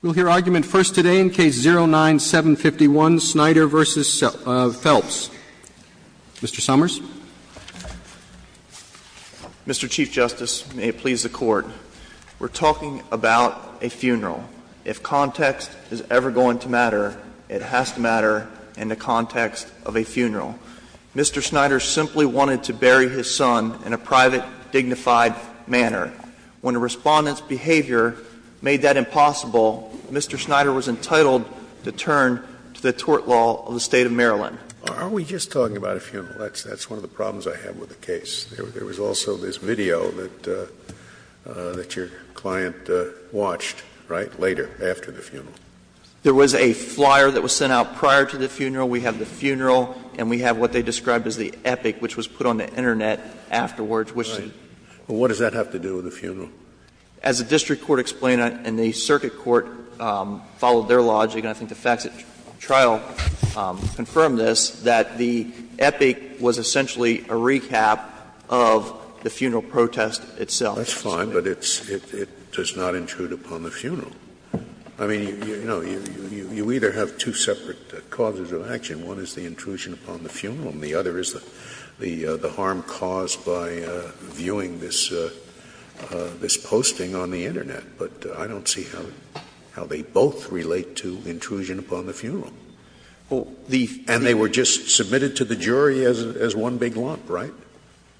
We'll hear argument first today in Case 09-751, Snyder v. Phelps. Mr. Summers. Mr. Chief Justice, and may it please the Court, we're talking about a funeral. If context is ever going to matter, it has to matter in the context of a funeral. Mr. Snyder simply wanted to bury his son in a private, dignified manner. When a Respondent's behavior made that impossible, Mr. Snyder was entitled to turn to the tort law of the State of Maryland. Are we just talking about a funeral? That's one of the problems I have with the case. There was also this video that your client watched, right, later, after the funeral. There was a flyer that was sent out prior to the funeral. We have the funeral, and we have what they described as the epic, which was put on the Internet afterwards. Scalia Well, what does that have to do with the funeral? Mr. Snyder As the district court explained, and the circuit court followed their logic, and I think the facts at trial confirm this, that the epic was essentially a recap of the funeral protest itself. Scalia That's fine, but it does not intrude upon the funeral. I mean, you know, you either have two separate causes of action. One is the intrusion upon the funeral, and the other is the harm caused by viewing this posting on the Internet. But I don't see how they both relate to intrusion upon the funeral. And they were just submitted to the jury as one big lump, right? Mr. Snyder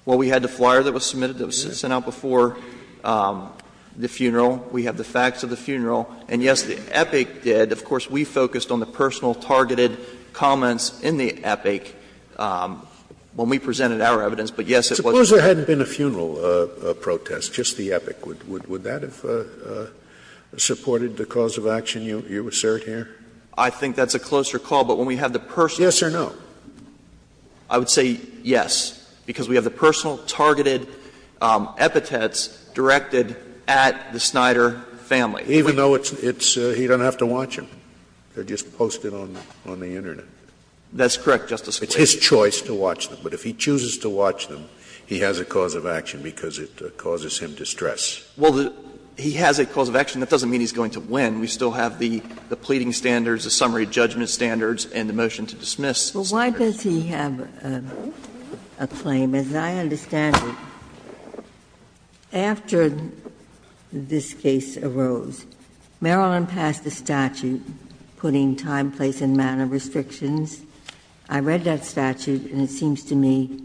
Well, we had the flyer that was submitted that was sent out before the funeral. We have the facts of the funeral. And, yes, the epic did. Of course, we focused on the personal targeted comments in the epic when we presented our evidence. But, yes, it was a funeral. Scalia Suppose there hadn't been a funeral protest, just the epic. Would that have supported the cause of action you assert here? Mr. Snyder I think that's a closer call. But when we have the personal. Scalia Yes or no? Mr. Snyder I would say yes, because we have the personal targeted epithets directed at the Snyder family. Scalia Even though it's he doesn't have to watch them. They are just posted on the Internet. Mr. Snyder That's correct, Justice Scalia. Scalia It's his choice to watch them. But if he chooses to watch them, he has a cause of action because it causes him distress. Mr. Snyder Well, he has a cause of action. That doesn't mean he's going to win. We still have the pleading standards, the summary judgment standards, and the motion to dismiss. Ginsburg But why does he have a claim? As I understand it, after this case arose, Maryland passed a statute putting time, place, and manner restrictions. I read that statute, and it seems to me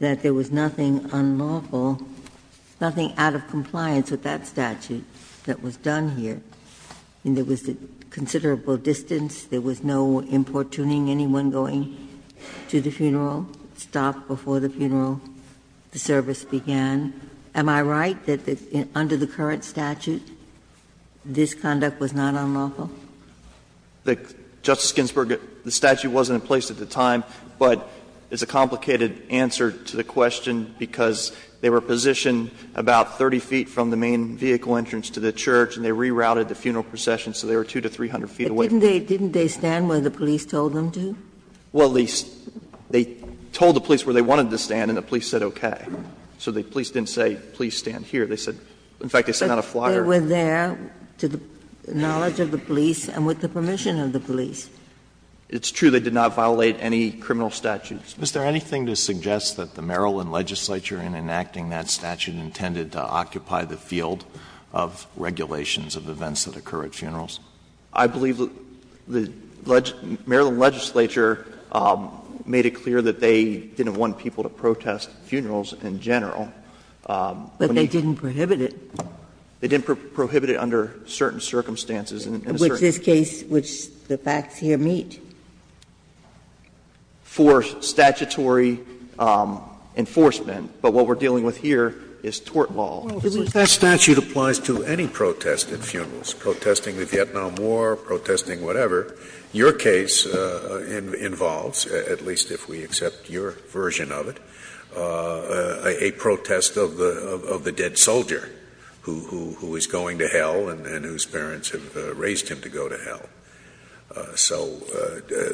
that there was nothing unlawful, nothing out of compliance with that statute that was done here. I mean, there was considerable distance. There was no importuning anyone going to the funeral. It stopped before the funeral. The service began. Am I right that under the current statute, this conduct was not unlawful? Mr. Snyder Justice Ginsburg, the statute wasn't in place at the time, but it's a complicated answer to the question because they were positioned about 30 feet from the main vehicle entrance to the church, and they rerouted the funeral procession, so they were 200 to 300 feet away from the church. Ginsburg But didn't they stand where the police told them to? Mr. Snyder Well, they told the police where they wanted to stand, and the police said okay. So the police didn't say, please stand here. They said, in fact, they sent out a flogger. Ginsburg But they were there to the knowledge of the police and with the permission of the police. Mr. Snyder It's true. They did not violate any criminal statutes. Alito Is there anything to suggest that the Maryland legislature in enacting that statute intended to occupy the field of regulations of events that occur at funerals? Mr. Snyder I believe the Maryland legislature made it clear that they didn't want people to protest funerals in general. But they didn't prohibit it. Mr. Snyder They didn't prohibit it under certain circumstances. Ginsburg Which this case, which the facts here meet. Mr. Snyder for statutory enforcement. But what we're dealing with here is tort law. Scalia Well, I believe that statute applies to any protest at funerals, protesting the Vietnam War, protesting whatever. Your case involves, at least if we accept your version of it, a protest of the dead soldier who is going to hell and whose parents have raised him to go to hell. So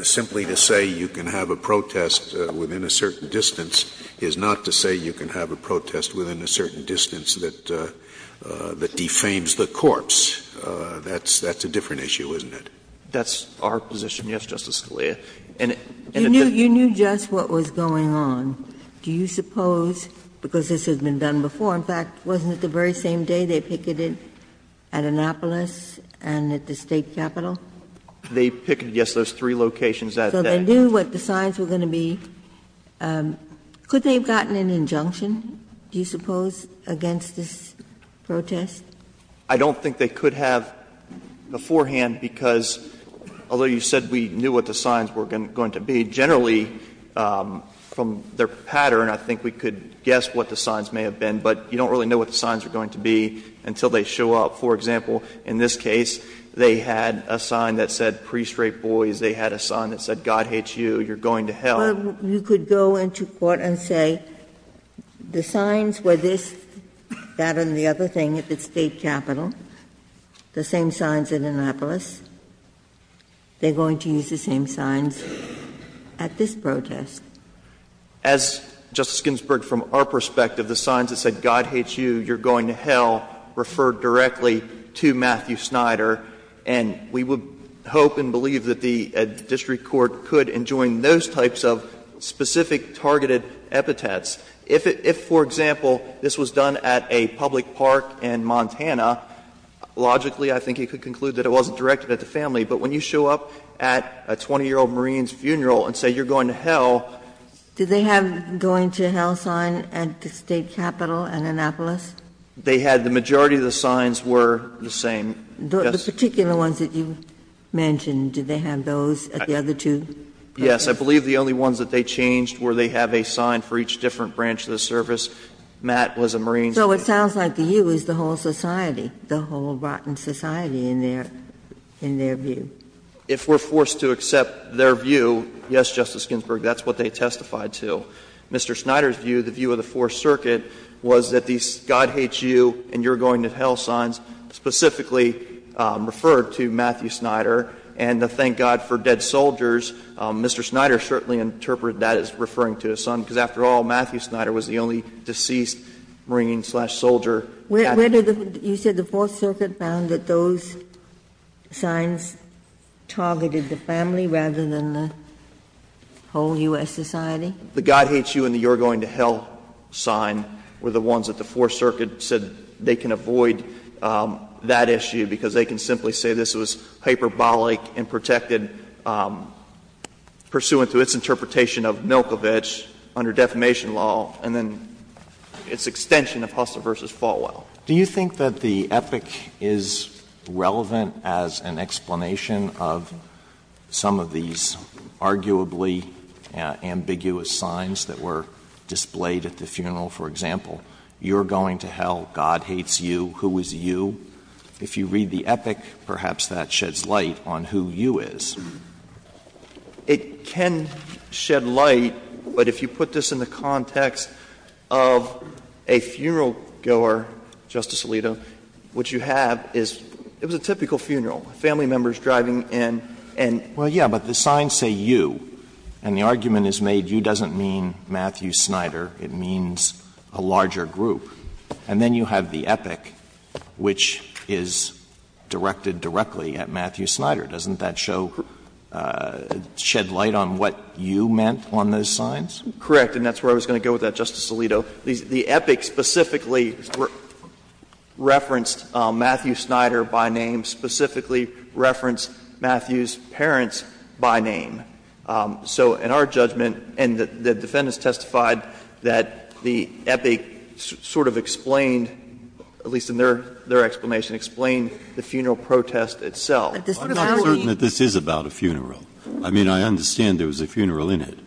simply to say you can have a protest within a certain distance is not to say you can have a protest within a certain distance that defames the corpse. That's a different issue, isn't it? Mr. Snyder That's our position, yes, Justice Scalia. And it doesn't Ginsburg You knew just what was going on. Do you suppose, because this has been done before, in fact, wasn't it the very same day they picketed at Annapolis and at the state capitol? Mr. Snyder They picketed, yes, those three locations that day. Ginsburg So they knew what the signs were going to be. Could they have gotten an injunction, do you suppose, against this protest? Mr. Snyder I don't think they could have beforehand, because although you said we knew what the signs were going to be, generally, from their pattern, I think we could guess what the signs may have been, but you don't really know what the signs are going to be until they show up. For example, in this case, they had a sign that said, pre-straight boys. They had a sign that said, God hates you, you're going to hell. Ginsburg Well, you could go into court and say the signs were this, that, and the other thing at the state capitol, the same signs at Annapolis. They're going to use the same signs at this protest. As Justice Ginsburg, from our perspective, the signs that said, God hates you, you're going to hell, referred directly to Matthew Snyder, and we would hope and believe that the district court could enjoin those types of specific targeted epithets. If, for example, this was done at a public park in Montana, logically, I think you could conclude that it wasn't directed at the family. But when you show up at a 20-year-old Marine's funeral and say you're going to hell ---- Ginsburg Did they have a going to hell sign at the state capitol and Annapolis? They had the majority of the signs were the same. The particular ones that you mentioned, did they have those at the other two? Yes. I believe the only ones that they changed were they have a sign for each different branch of the service. Matt was a Marine. Ginsburg So it sounds like to you it was the whole society, the whole rotten society in their view. If we're forced to accept their view, yes, Justice Ginsburg, that's what they testified to. Mr. Snyder's view, the view of the Fourth Circuit, was that these God hates you and you're going to hell signs specifically referred to Matthew Snyder. And the thank God for dead soldiers, Mr. Snyder certainly interpreted that as referring to his son, because after all, Matthew Snyder was the only deceased Marine slash soldier at the capitol. You said the Fourth Circuit found that those signs targeted the family rather than the whole U.S. society? The God hates you and you're going to hell sign were the ones that the Fourth Circuit said they can avoid that issue, because they can simply say this was hyperbolic and protected pursuant to its interpretation of Milkovich under defamation law and then its extension of Hustler v. Falwell. Do you think that the epoch is relevant as an explanation of some of these arguably ambiguous signs that were displayed at the funeral? For example, you're going to hell, God hates you, who is you? If you read the epoch, perhaps that sheds light on who you is. It can shed light, but if you put this in the context of a funeral goer, who is going to hell, Justice Alito, what you have is, it was a typical funeral, family members driving in and. Well, yes, but the signs say you, and the argument is made you doesn't mean Matthew Snyder, it means a larger group, and then you have the epoch, which is directed directly at Matthew Snyder. Doesn't that show, shed light on what you meant on those signs? Correct. And that's where I was going to go with that, Justice Alito. The epoch specifically referenced Matthew Snyder by name, specifically referenced Matthew's parents by name. So in our judgment, and the defendants testified that the epoch sort of explained, at least in their explanation, explained the funeral protest itself. I'm not certain that this is about a funeral. I mean, I understand there was a funeral in it,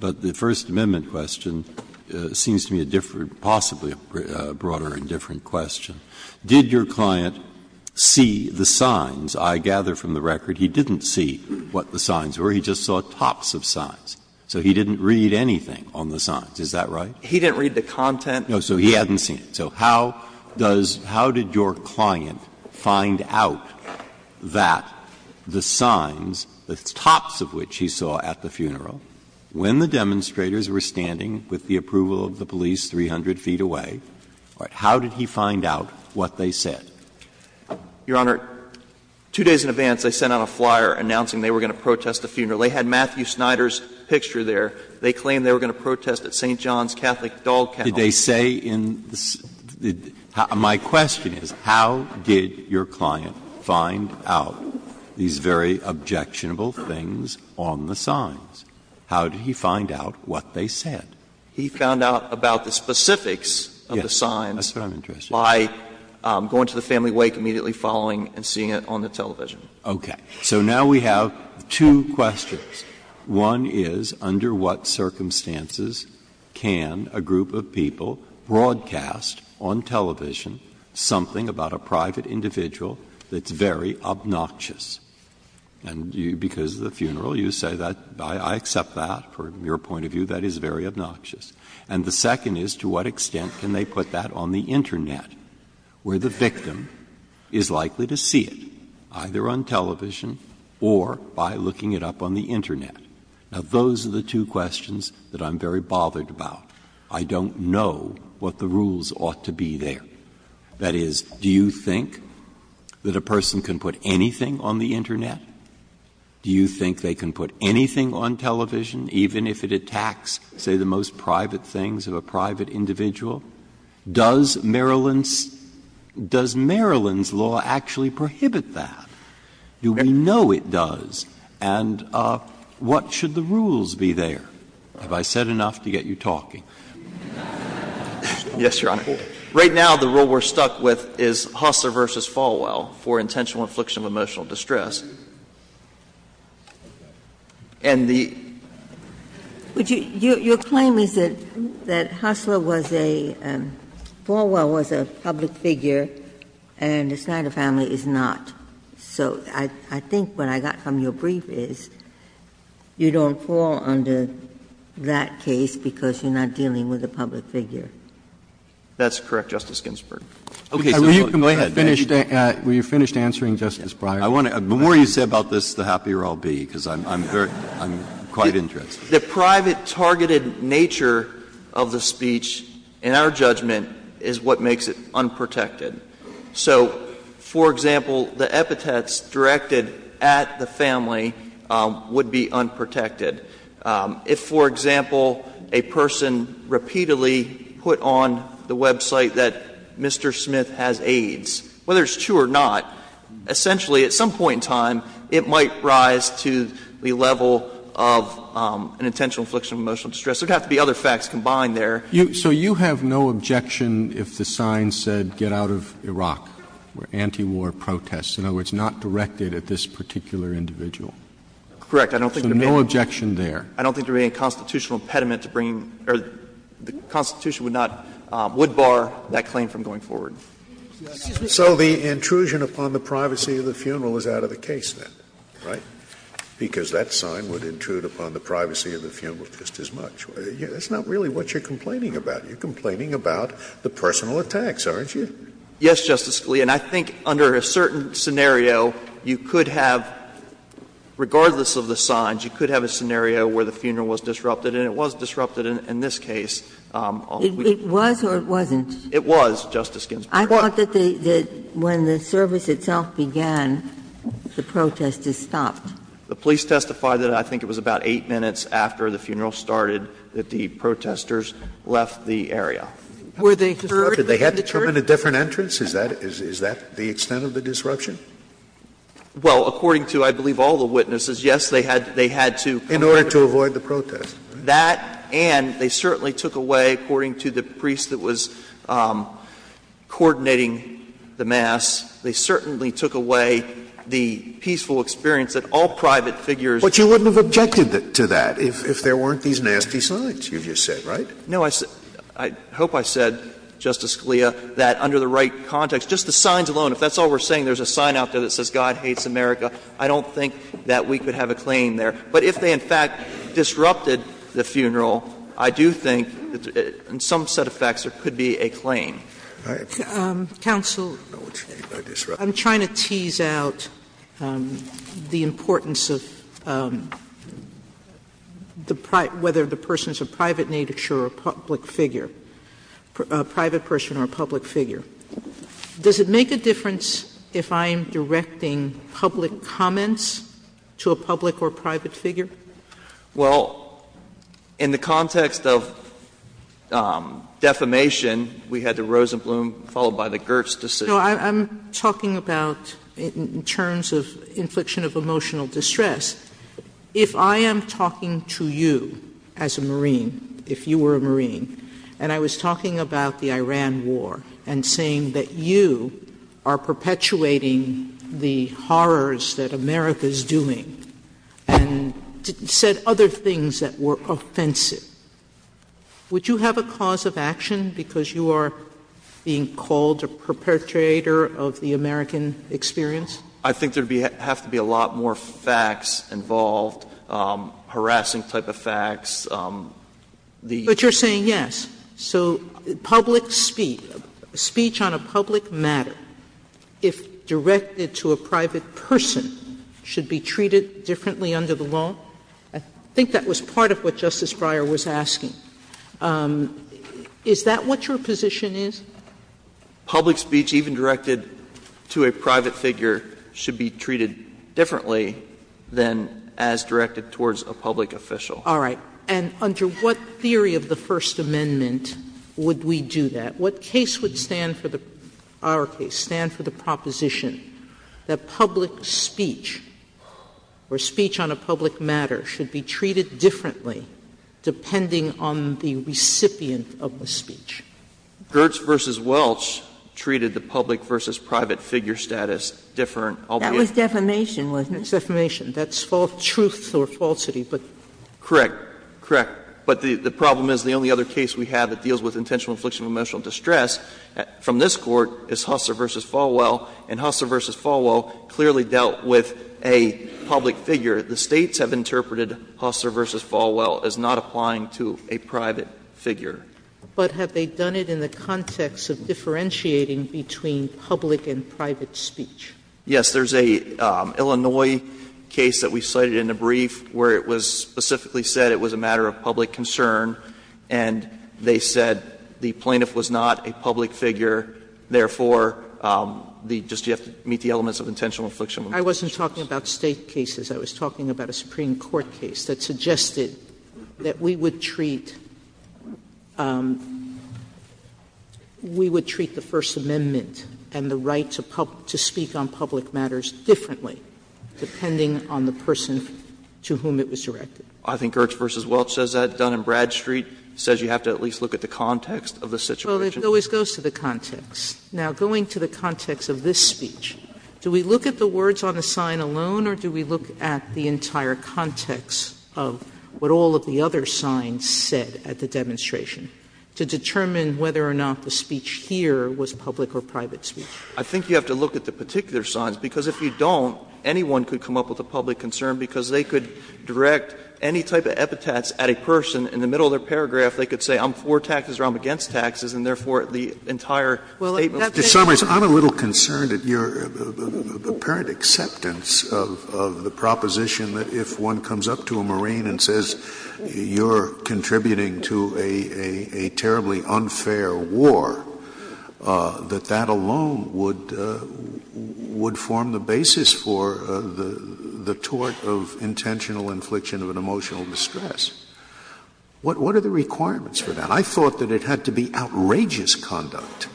but the First Amendment question seems to me a different, possibly a broader and different question. Did your client see the signs? I gather from the record he didn't see what the signs were. He just saw tops of signs. So he didn't read anything on the signs. Is that right? He didn't read the content. No. So he hadn't seen it. So how does — how did your client find out that the signs, the tops of which he saw at the funeral, when the demonstrators were standing with the approval of the police 300 feet away, how did he find out what they said? Your Honor, two days in advance, they sent out a flyer announcing they were going to protest the funeral. They had Matthew Snyder's picture there. They claimed they were going to protest at St. John's Catholic doll kennel. Did they say in the — my question is, how did your client find out these very objectionable things on the signs? How did he find out what they said? He found out about the specifics of the signs by going to the family wake immediately following and seeing it on the television. Okay. So now we have two questions. One is, under what circumstances can a group of people broadcast on television something about a private individual that's very obnoxious? And you, because of the funeral, you say that I accept that from your point of view, that is very obnoxious. And the second is, to what extent can they put that on the Internet, where the victim is likely to see it, either on television or by looking it up on the Internet? Now, those are the two questions that I'm very bothered about. I don't know what the rules ought to be there. That is, do you think that a person can put anything on the Internet? Do you think they can put anything on television, even if it attacks, say, the most private things of a private individual? Does Maryland's — does Maryland's law actually prohibit that? Do we know it does? And what should the rules be there? Have I said enough to get you talking? Yes, Your Honor. Right now, the rule we're stuck with is Hussler v. Falwell for intentional infliction of emotional distress. And the — Ginsburg. Your claim is that Hussler was a — Falwell was a public figure, and the Snyder family is not. So I think what I got from your brief is, you don't fall under that case because you're not dealing with a public figure. That's correct, Justice Ginsburg. Okay. So go ahead. Were you finished answering Justice Breyer? I want to — the more you say about this, the happier I'll be, because I'm very — I'm quite interested. The private targeted nature of the speech, in our judgment, is what makes it unprotected. So, for example, the epithets directed at the family would be unprotected. If, for example, a person repeatedly put on the website that Mr. Smith has AIDS, whether it's true or not, essentially, at some point in time, it might rise to the level of an intentional infliction of emotional distress. There would have to be other facts combined there. So you have no objection if the sign said, Get out of Iraq, or antiwar protests. In other words, not directed at this particular individual. Correct. I don't think it would have been. So no objection there. I don't think there would be any constitutional impediment to bringing — or the Constitution would not — would bar that claim from going forward. So the intrusion upon the privacy of the funeral is out of the case then, right? Because that sign would intrude upon the privacy of the funeral just as much. That's not really what you're complaining about. You're complaining about the personal attacks, aren't you? Yes, Justice Scalia. And I think under a certain scenario, you could have, regardless of the signs, you could have a scenario where the funeral was disrupted, and it was disrupted in this case. It was or it wasn't? It was, Justice Ginsburg. I thought that when the service itself began, the protest is stopped. The police testified that I think it was about 8 minutes after the funeral started that the protesters left the area. Were they conferred? Did they have to come in a different entrance? Is that the extent of the disruption? Well, according to, I believe, all the witnesses, yes, they had to come in. In order to avoid the protest. That and they certainly took away, according to the priest that was coordinating the mass, they certainly took away the peaceful experience that all private figures But you wouldn't have objected to that if there weren't these nasty signs, you've just said, right? No, I hope I said, Justice Scalia, that under the right context, just the signs alone, if that's all we're saying, there's a sign out there that says, God hates America, I don't think that we could have a claim there. But if they, in fact, disrupted the funeral, I do think that in some set of facts there could be a claim. All right. Counsel. I'm trying to tease out the importance of the private, whether the person is a private person or a public figure. Does it make a difference if I'm directing public comments to a public or private figure? Well, in the context of defamation, we had the Rosenblum followed by the Gertz decision. No, I'm talking about in terms of infliction of emotional distress. If I am talking to you as a Marine, if you were a Marine, and I was talking about the Iran war and saying that you are perpetuating the horrors that America is doing and said other things that were offensive, would you have a cause of action because you are being called a perpetrator of the American experience? I think there would have to be a lot more facts involved, harassing type of facts. The other thing is that you're saying, yes, so public speech, speech on a public matter, if directed to a private person, should be treated differently under the law? I think that was part of what Justice Breyer was asking. Is that what your position is? Public speech, even directed to a private figure, should be treated differently than as directed towards a public official. All right. And under what theory of the First Amendment would we do that? What case would stand for the – our case, stand for the proposition that public speech or speech on a public matter should be treated differently depending on the recipient of the speech? Gertz v. Welch treated the public v. private figure status different. That was defamation, wasn't it? That's defamation. That's false truth or falsity. Correct. Correct. But the problem is the only other case we have that deals with intentional infliction of emotional distress from this Court is Husser v. Falwell, and Husser v. Falwell clearly dealt with a public figure. The States have interpreted Husser v. Falwell as not applying to a private figure. But have they done it in the context of differentiating between public and private speech? Yes. There's a Illinois case that we cited in the brief where it was specifically said it was a matter of public concern, and they said the plaintiff was not a public figure, therefore, the – just you have to meet the elements of intentional infliction. I wasn't talking about State cases. I was talking about a Supreme Court case that suggested that we would treat – we would treat the First Amendment and the right to speak on public matters differently depending on the person to whom it was directed. I think Gertz v. Welch says that. Dun & Bradstreet says you have to at least look at the context of the situation. Well, it always goes to the context. Now, going to the context of this speech, do we look at the words on the sign alone or do we look at the entire context of what all of the other signs said at the demonstration to determine whether or not the speech here was public or private speech? I think you have to look at the particular signs, because if you don't, anyone could come up with a public concern because they could direct any type of epitaphs at a person. In the middle of their paragraph, they could say, I'm for taxes or I'm against taxes, and therefore, the entire statement. Scalia. Just to summarize, I'm a little concerned at your apparent acceptance of the proposition that if one comes up to a Marine and says you're contributing to a terribly unfair war, that that alone would form the basis for the tort of intentional infliction of an emotional distress. What are the requirements for that? I thought that it had to be outrageous conduct.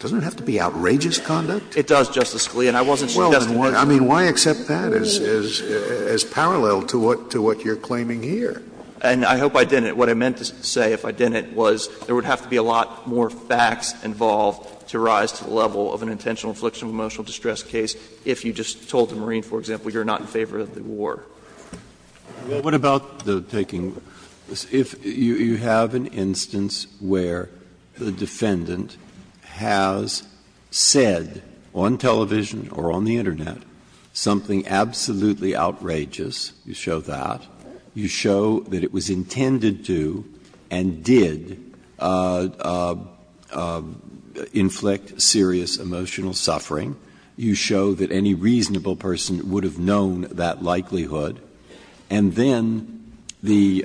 Doesn't it have to be outrageous conduct? It does, Justice Scalia, and I wasn't suggesting that. I mean, why accept that as parallel to what you're claiming here? And I hope I didn't. What I meant to say, if I didn't, was there would have to be a lot more facts involved to rise to the level of an intentional infliction of emotional distress case if you just told the Marine, for example, you're not in favor of the war. Breyer. What about the taking of the law? If you have an instance where the defendant has said on television or on the Internet something absolutely outrageous, you show that, you show that it was intended to and did inflict serious emotional suffering, you show that any reasonable person would have known that likelihood, and then the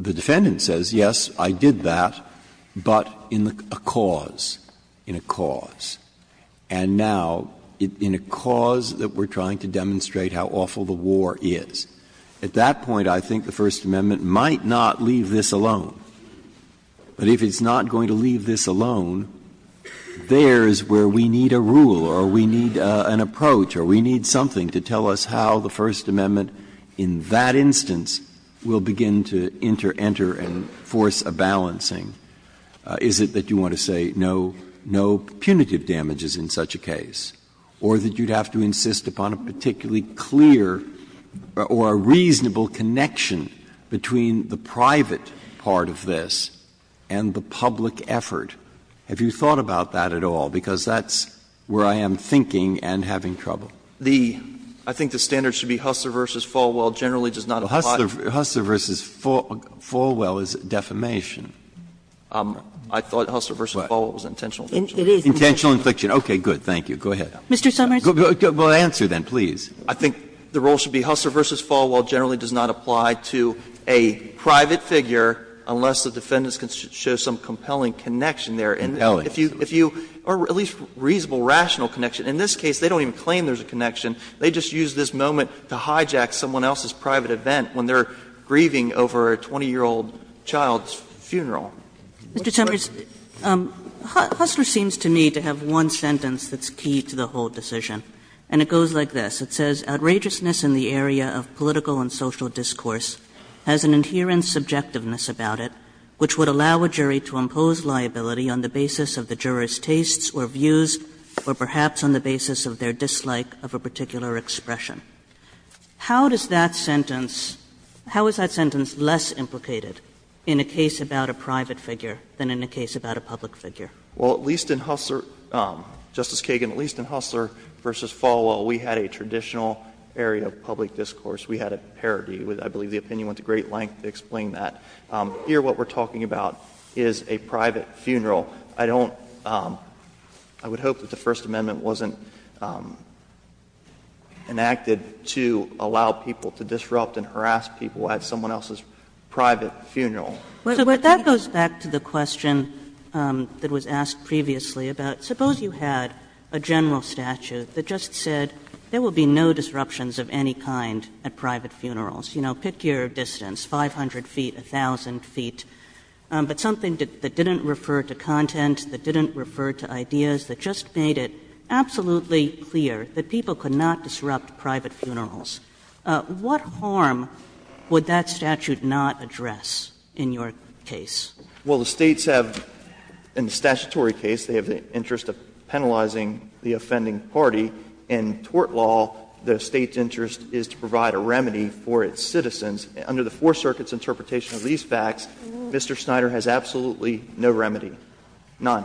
defendant says, yes, I did that, but in a cause, in a cause, and now in a cause that we're trying to demonstrate how awful the war is. At that point, I think the First Amendment might not leave this alone. But if it's not going to leave this alone, there is where we need a rule or we need an approach or we need something to tell us how the First Amendment in that instance will begin to enter and force a balancing. Is it that you want to say no, no punitive damages in such a case, or that you'd have to insist upon a particularly clear or a reasonable connection between the private part of this and the public effort? Have you thought about that at all? Because that's where I am thinking and having trouble. I think the standard should be Hustler v. Falwell generally does not apply to the defendant. Hustler v. Falwell is defamation. I thought Hustler v. Falwell was intentional. It is. Intentional infliction. Okay. Good. Thank you. Go ahead. Mr. Summers. Well, answer then, please. I think the rule should be Hustler v. Falwell generally does not apply to a private figure unless the defendant shows some compelling connection there. If you or at least a reasonable, rational connection. In this case, they don't even claim there is a connection. They just use this moment to hijack someone else's private event when they are grieving over a 20-year-old child's funeral. Mr. Summers, Hustler seems to me to have one sentence that's key to the whole decision. And it goes like this. It says, How does that sentence, how is that sentence less implicated in a case about a private figure than in a case about a public figure? Well, at least in Hustler, Justice Kagan, at least in Hustler v. Falwell, we had a traditional We had a case about a private figure. public discourse. We had a parody. I believe the opinion went to great length to explain that. Here, what we are talking about is a private funeral. I don't, I would hope that the First Amendment wasn't enacted to allow people to disrupt and harass people at someone else's private funeral. But that goes back to the question that was asked previously about, suppose you had a general statute that just said there will be no disruptions of any kind at private funerals. You know, pick your distance, 500 feet, 1,000 feet. But something that didn't refer to content, that didn't refer to ideas, that just made it absolutely clear that people could not disrupt private funerals. What harm would that statute not address in your case? Well, the States have, in the statutory case, they have the interest of penalizing the offending party. In tort law, the State's interest is to provide a remedy for its citizens. Under the Four Circuit's interpretation of these facts, Mr. Snyder has absolutely no remedy, none.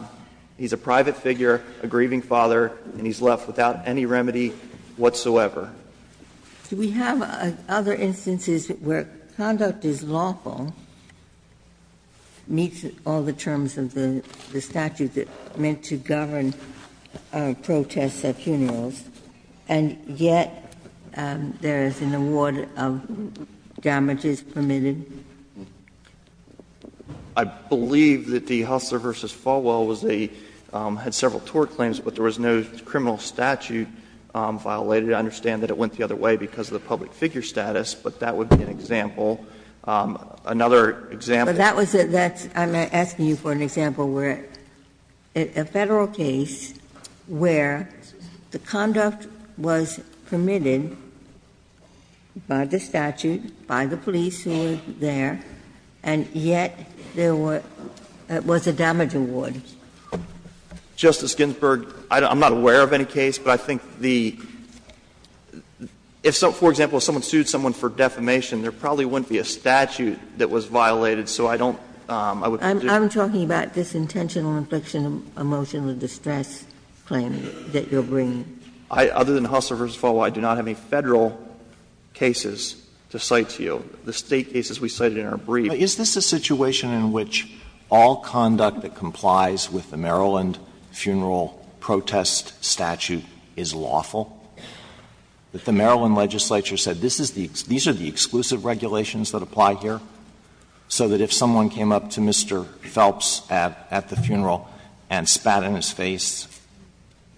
He's a private figure, a grieving father, and he's left without any remedy whatsoever. Do we have other instances where conduct is lawful, meets all the terms of the statute that meant to govern protests at funerals, and yet there is an award of damages permitted? I believe that the Hustler v. Falwell was a — had several tort claims, but there was no criminal statute violated. I understand that it went the other way because of the public figure status, but that would be an example. Another example. But that was a — I'm asking you for an example where a Federal case where the conduct was permitted by the statute, by the police who were there, and yet there was a damage award. Justice Ginsburg, I'm not aware of any case, but I think the — if, for example, someone sued someone for defamation, there probably wouldn't be a statute that was violated, so I don't — I'm talking about this intentional infliction of emotional distress claim that you're bringing. Other than Hustler v. Falwell, I do not have any Federal cases to cite to you. The State cases we cited in our brief. Alito, is this a situation in which all conduct that complies with the Maryland funeral protest statute is lawful, that the Maryland legislature said, this is the — these are the exclusive regulations that apply here, so that if someone came up to Mr. Phelps at the funeral and spat in his face,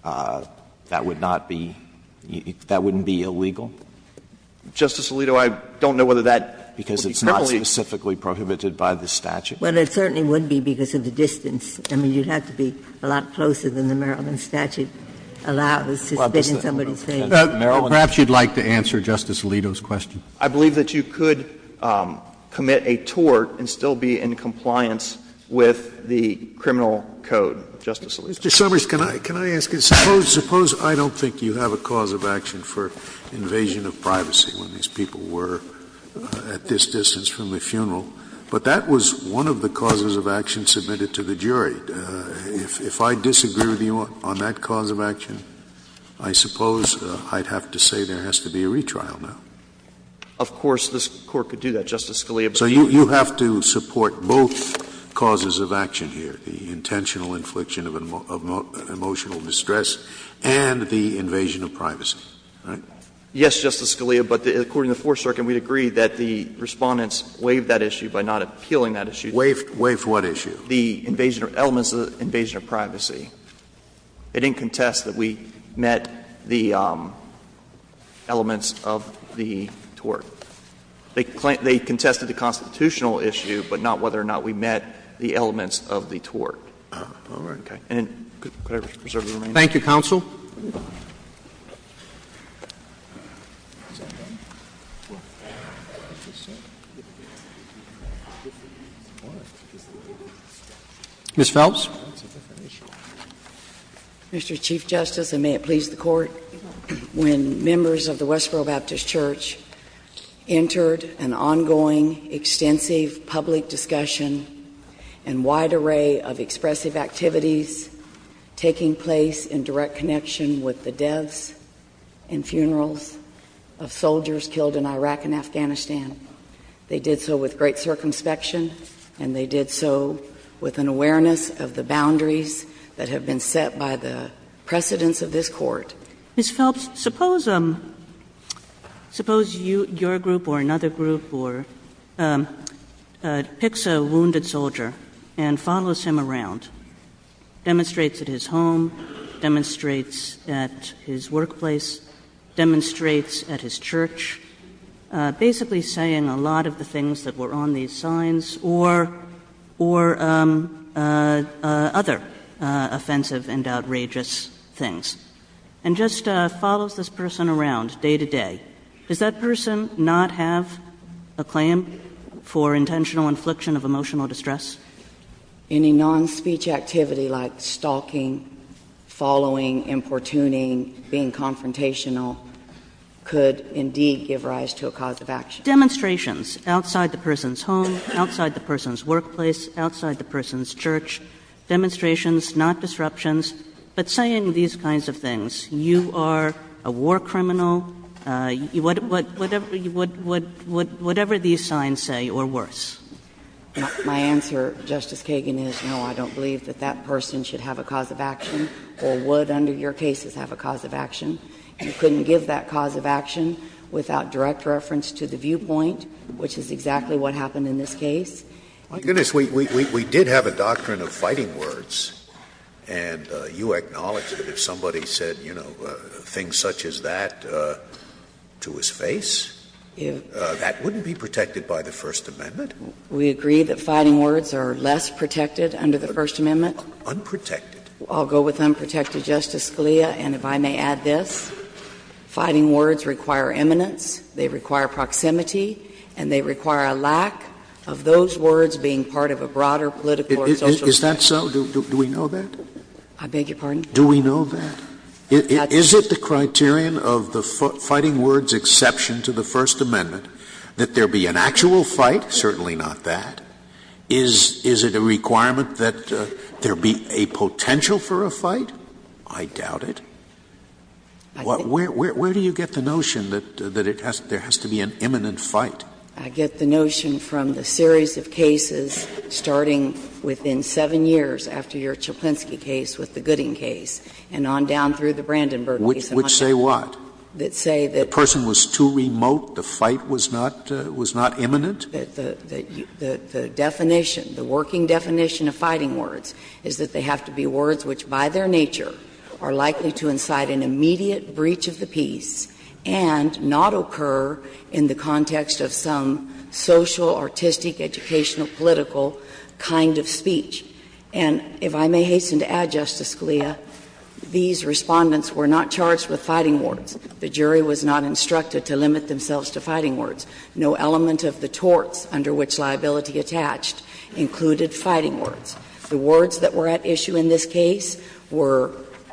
that would not be — that wouldn't be illegal? Justice Alito, I don't know whether that would be criminally— Sotomayor, I don't know whether that would be criminally prohibited by the statute. Well, it certainly wouldn't be because of the distance. I mean, you'd have to be a lot closer than the Maryland statute allows to spit in somebody's face. Well, perhaps you'd like to answer Justice Alito's question. I believe that you could commit a tort and still be in compliance with the criminal code, Justice Alito. Mr. Summers, can I — can I ask you, suppose — suppose I don't think you have a cause of action for invasion of privacy when these people were at this distance from the funeral, but that was one of the causes of action submitted to the jury. If I disagree with you on that cause of action, I suppose I'd have to say there has to be a retrial now. Of course, this Court could do that, Justice Scalia. So you have to support both causes of action here, the intentional infliction of emotional distress and the invasion of privacy, right? Yes, Justice Scalia, but according to the Fourth Circuit, we'd agree that the Respondents waived that issue by not appealing that issue. Waived what issue? The invasion — elements of the invasion of privacy. They didn't contest that we met the elements of the tort. They contested the constitutional issue, but not whether or not we met the elements of the tort. All right. Okay. And could I reserve the remaining time? Thank you, counsel. Ms. Phelps. Mr. Chief Justice, and may it please the Court, when members of the Westboro Baptist Church entered an ongoing, extensive public discussion and wide array of expressive activities taking place in direct connection with the deaths and funerals of soldiers killed in Iraq and Afghanistan, they did so with great circumspection, and they did so with an awareness of the boundaries that have been set by the precedents of this Court. Ms. Phelps, suppose — suppose your group or another group or — picks a wounded soldier and follows him around, demonstrates at his home, demonstrates at his workplace, demonstrates at his church, basically saying a lot of the things that were on these signs or — or other offensive and outrageous things. And just follows this person around day to day. Does that person not have a claim for intentional infliction of emotional distress? Any non-speech activity like stalking, following, importuning, being confrontational could indeed give rise to a cause of action. Demonstrations outside the person's home, outside the person's workplace, outside the person's church. Demonstrations, not disruptions, but saying these kinds of things. You are a war criminal. Whatever — whatever these signs say, or worse. Phelps, my answer, Justice Kagan, is no, I don't believe that that person should have a cause of action or would under your cases have a cause of action. You couldn't give that cause of action without direct reference to the viewpoint, which is exactly what happened in this case. Scalia. My goodness, we did have a doctrine of fighting words, and you acknowledged that if somebody said, you know, things such as that to his face, that wouldn't be protected by the First Amendment. We agree that fighting words are less protected under the First Amendment. Unprotected. I'll go with unprotected, Justice Scalia. And if I may add this, fighting words require eminence, they require proximity, and they require a lack of those words being part of a broader political or social issue. Scalia. Is that so? Do we know that? I beg your pardon? Scalia. Do we know that? Is it the criterion of the fighting words exception to the First Amendment that there be an actual fight? Certainly not that. Is it a requirement that there be a potential for a fight? I doubt it. Where do you get the notion that there has to be an imminent fight? I get the notion from the series of cases starting within seven years after your Chplinsky case with the Gooding case and on down through the Brandenburg case. Which say what? That say that the person was too remote, the fight was not imminent? The definition, the working definition of fighting words is that they have to be words which by their nature are likely to incite an immediate breach of the peace and not occur in the context of some social, artistic, educational, political kind of speech. And if I may hasten to add, Justice Scalia, these Respondents were not charged with fighting words. The jury was not instructed to limit themselves to fighting words. No element of the torts under which liability attached included fighting words. The words that were at issue in this case were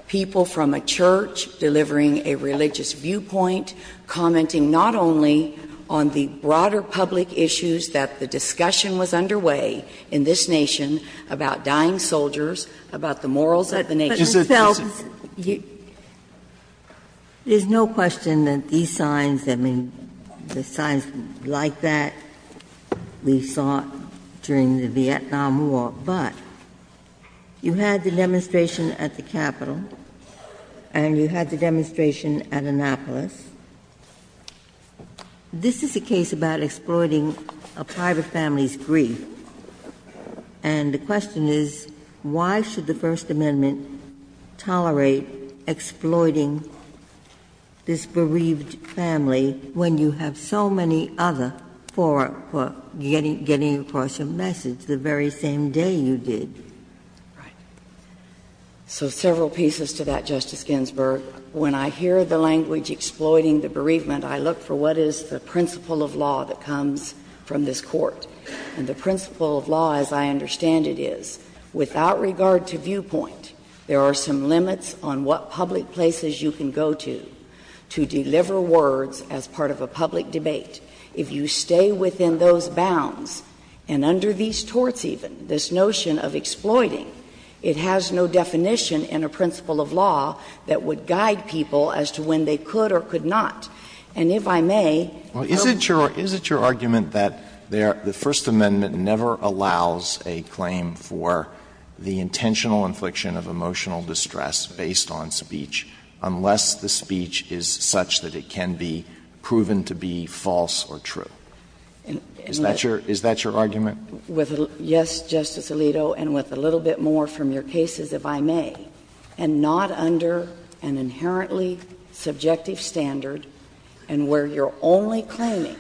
people from a church delivering a religious viewpoint, commenting not only on the broader public issues that the discussion was underway in this nation about dying soldiers, about the morals of the nation. But, Ms. Feldman, you don't have to say anything else about that, but I'm just going to say that there's no question that these signs, I mean, the signs like that we saw during the Vietnam War. But you had the demonstration at the Capitol, and you had the demonstration at Annapolis. This is a case about exploiting a private family's grief. And the question is, why should the First Amendment tolerate exploiting this bereaved family when you have so many other for getting across a message the very same day? And the question is, why should the First Amendment tolerate exploiting the bereaved family when you have so many other for getting across a message the very same day? You did. Right. So several pieces to that, Justice Ginsburg. When I hear the language exploiting the bereavement, I look for what is the principle of law that comes from this Court. And the principle of law, as I understand it, is without regard to viewpoint, there are some limits on what public places you can go to, to deliver words as part of a public debate. If you stay within those bounds, and under these torts even, this notion of exploiting, it has no definition in a principle of law that would guide people as to when they could or could not. And if I may. Alito, and with a little bit more from your cases, if I may, and not under an inherently subjective standard, and where your only argument is that the First Amendment never allows a claim for the intentional infliction of emotional distress based on speech, unless the speech is such that it can be proven to be false or true, is that your argument? With a little, yes, Justice Alito, and with a little bit more from your cases, if I may, and not under an inherently subjective standard, and where you're only claiming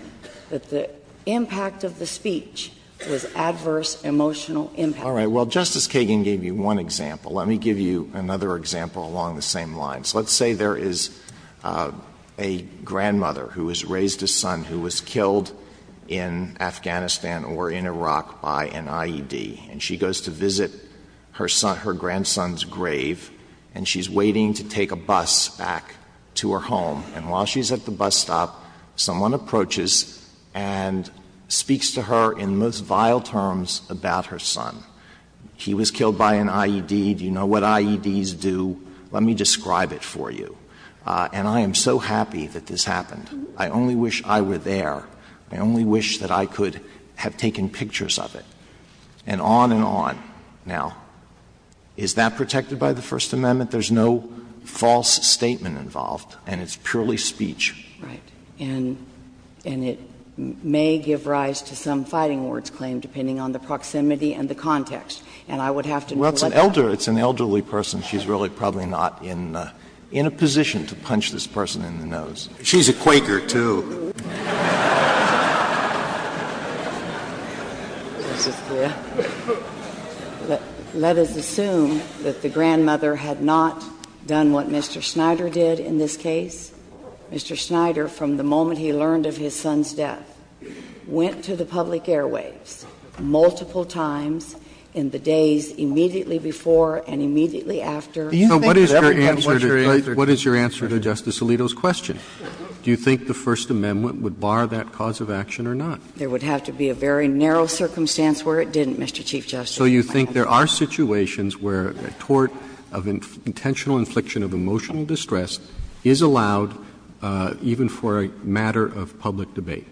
that the impact of the speech was adverse emotional impact. All right. Well, Justice Kagan gave you one example. Let me give you another example along the same lines. Let's say there is a grandmother who has raised a son who was killed in Afghanistan or in Iraq by an IED, and she goes to visit her son, her grandson's grave, and she's waiting to take a bus back to her home. And while she's at the bus stop, someone approaches and speaks to her in the most vile terms about her son. He was killed by an IED. Do you know what IEDs do? Let me describe it for you. And I am so happy that this happened. I only wish I were there. I only wish that I could have taken pictures of it, and on and on. Now, is that protected by the First Amendment? There's no false statement involved, and it's purely speech. Right. And it may give rise to some fighting words claim, depending on the proximity and the context. And I would have to know what that is. Well, it's an elderly person. She's really probably not in a position to punch this person in the nose. She's a Quaker, too. Let us assume that the grandmother had not done what Mr. Snyder did in this case. Mr. Snyder, from the moment he learned of his son's death, went to the public airwaves multiple times in the days immediately before and immediately after. So what is your answer to Justice Alito's question? Do you think the First Amendment would bar that cause of action or not? There would have to be a very narrow circumstance where it didn't, Mr. Chief Justice. So you think there are situations where a tort of intentional infliction of emotional distress is allowed even for a matter of public debate?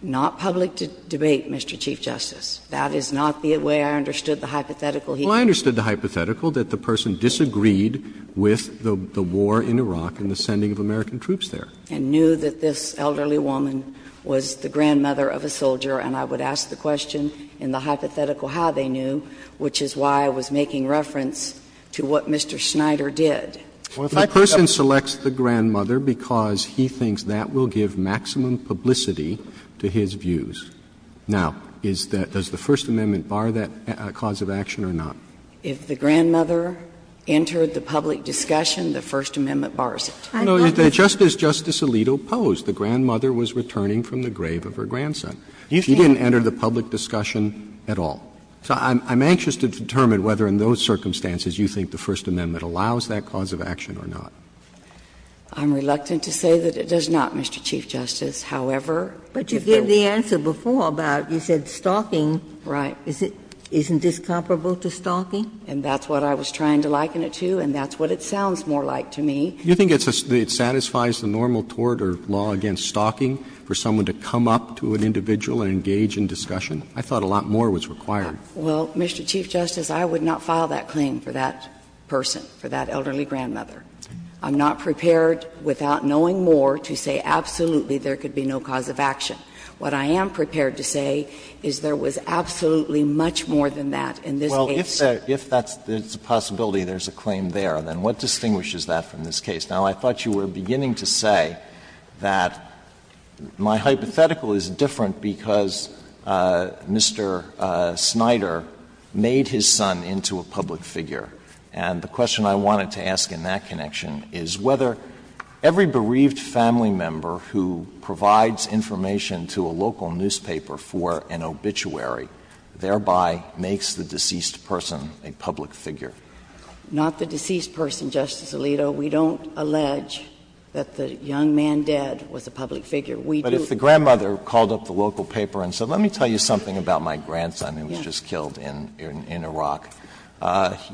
Not public debate, Mr. Chief Justice. That is not the way I understood the hypothetical he gave. Well, I understood the hypothetical, that the person disagreed with the war in Iraq and the sending of American troops there. And knew that this elderly woman was the grandmother of a soldier, and I would ask the question in the hypothetical how they knew, which is why I was making reference to what Mr. Snyder did. The person selects the grandmother because he thinks that will give maximum publicity to his views. Now, is that the First Amendment bar that cause of action or not? If the grandmother entered the public discussion, the First Amendment bars it. No, it's just as Justice Alito posed. The grandmother was returning from the grave of her grandson. She didn't enter the public discussion at all. So I'm anxious to determine whether in those circumstances you think the First Amendment allows that cause of action or not. I'm reluctant to say that it does not, Mr. Chief Justice. However, if there was. But you gave the answer before about you said stalking. Right. Isn't this comparable to stalking? And that's what I was trying to liken it to, and that's what it sounds more like to me. Do you think it satisfies the normal tort or law against stalking for someone to come up to an individual and engage in discussion? I thought a lot more was required. Well, Mr. Chief Justice, I would not file that claim for that person, for that elderly grandmother. I'm not prepared without knowing more to say absolutely there could be no cause of action. What I am prepared to say is there was absolutely much more than that in this case. Well, if that's a possibility, there's a claim there, then what distinguishes that from this case? Now, I thought you were beginning to say that my hypothetical is different because Mr. Snyder made his son into a public figure. And the question I wanted to ask in that connection is whether every bereaved family member who provides information to a local newspaper for an obituary thereby makes the deceased person a public figure. Not the deceased person, Justice Alito. We don't allege that the young man dead was a public figure. We do. But if the grandmother called up the local paper and said let me tell you something about my grandson who was just killed in Iraq,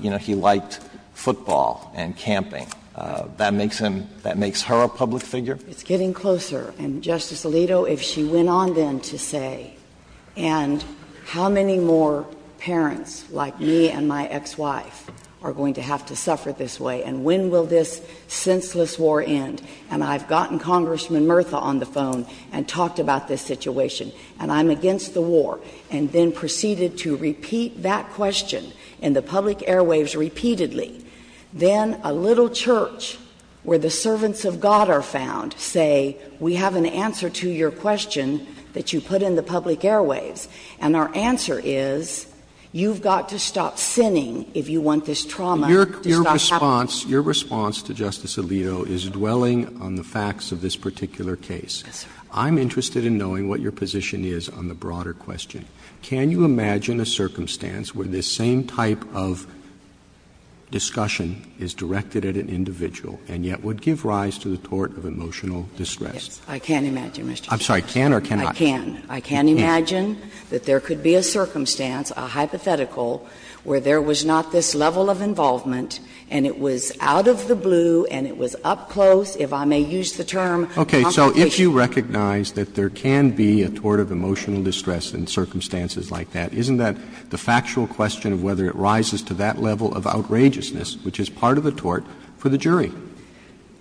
you know, he liked football and camping. That makes him — that makes her a public figure? It's getting closer. And, Justice Alito, if she went on then to say, and how many more parents like me and my ex-wife are going to have to suffer this way, and when will this senseless war end? And I've gotten Congressman Murtha on the phone and talked about this situation. And I'm against the war. And then proceeded to repeat that question in the public airwaves repeatedly. Then a little church where the servants of God are found say, we have an answer to your question that you put in the public airwaves. And our answer is, you've got to stop sinning if you want this trauma to stop happening. Your response to Justice Alito is dwelling on the facts of this particular case. Yes, sir. I'm interested in knowing what your position is on the broader question. Can you imagine a circumstance where this same type of discussion is directed at an individual and yet would give rise to the tort of emotional distress? I can imagine, Mr. Chief Justice. I'm sorry, can or cannot? I can. I can imagine that there could be a circumstance, a hypothetical, where there was not this level of involvement, and it was out of the blue, and it was up close, if I may use the term, complication. Okay. So if you recognize that there can be a tort of emotional distress in circumstances like that, isn't that the factual question of whether it rises to that level of outrageousness, which is part of the tort for the jury?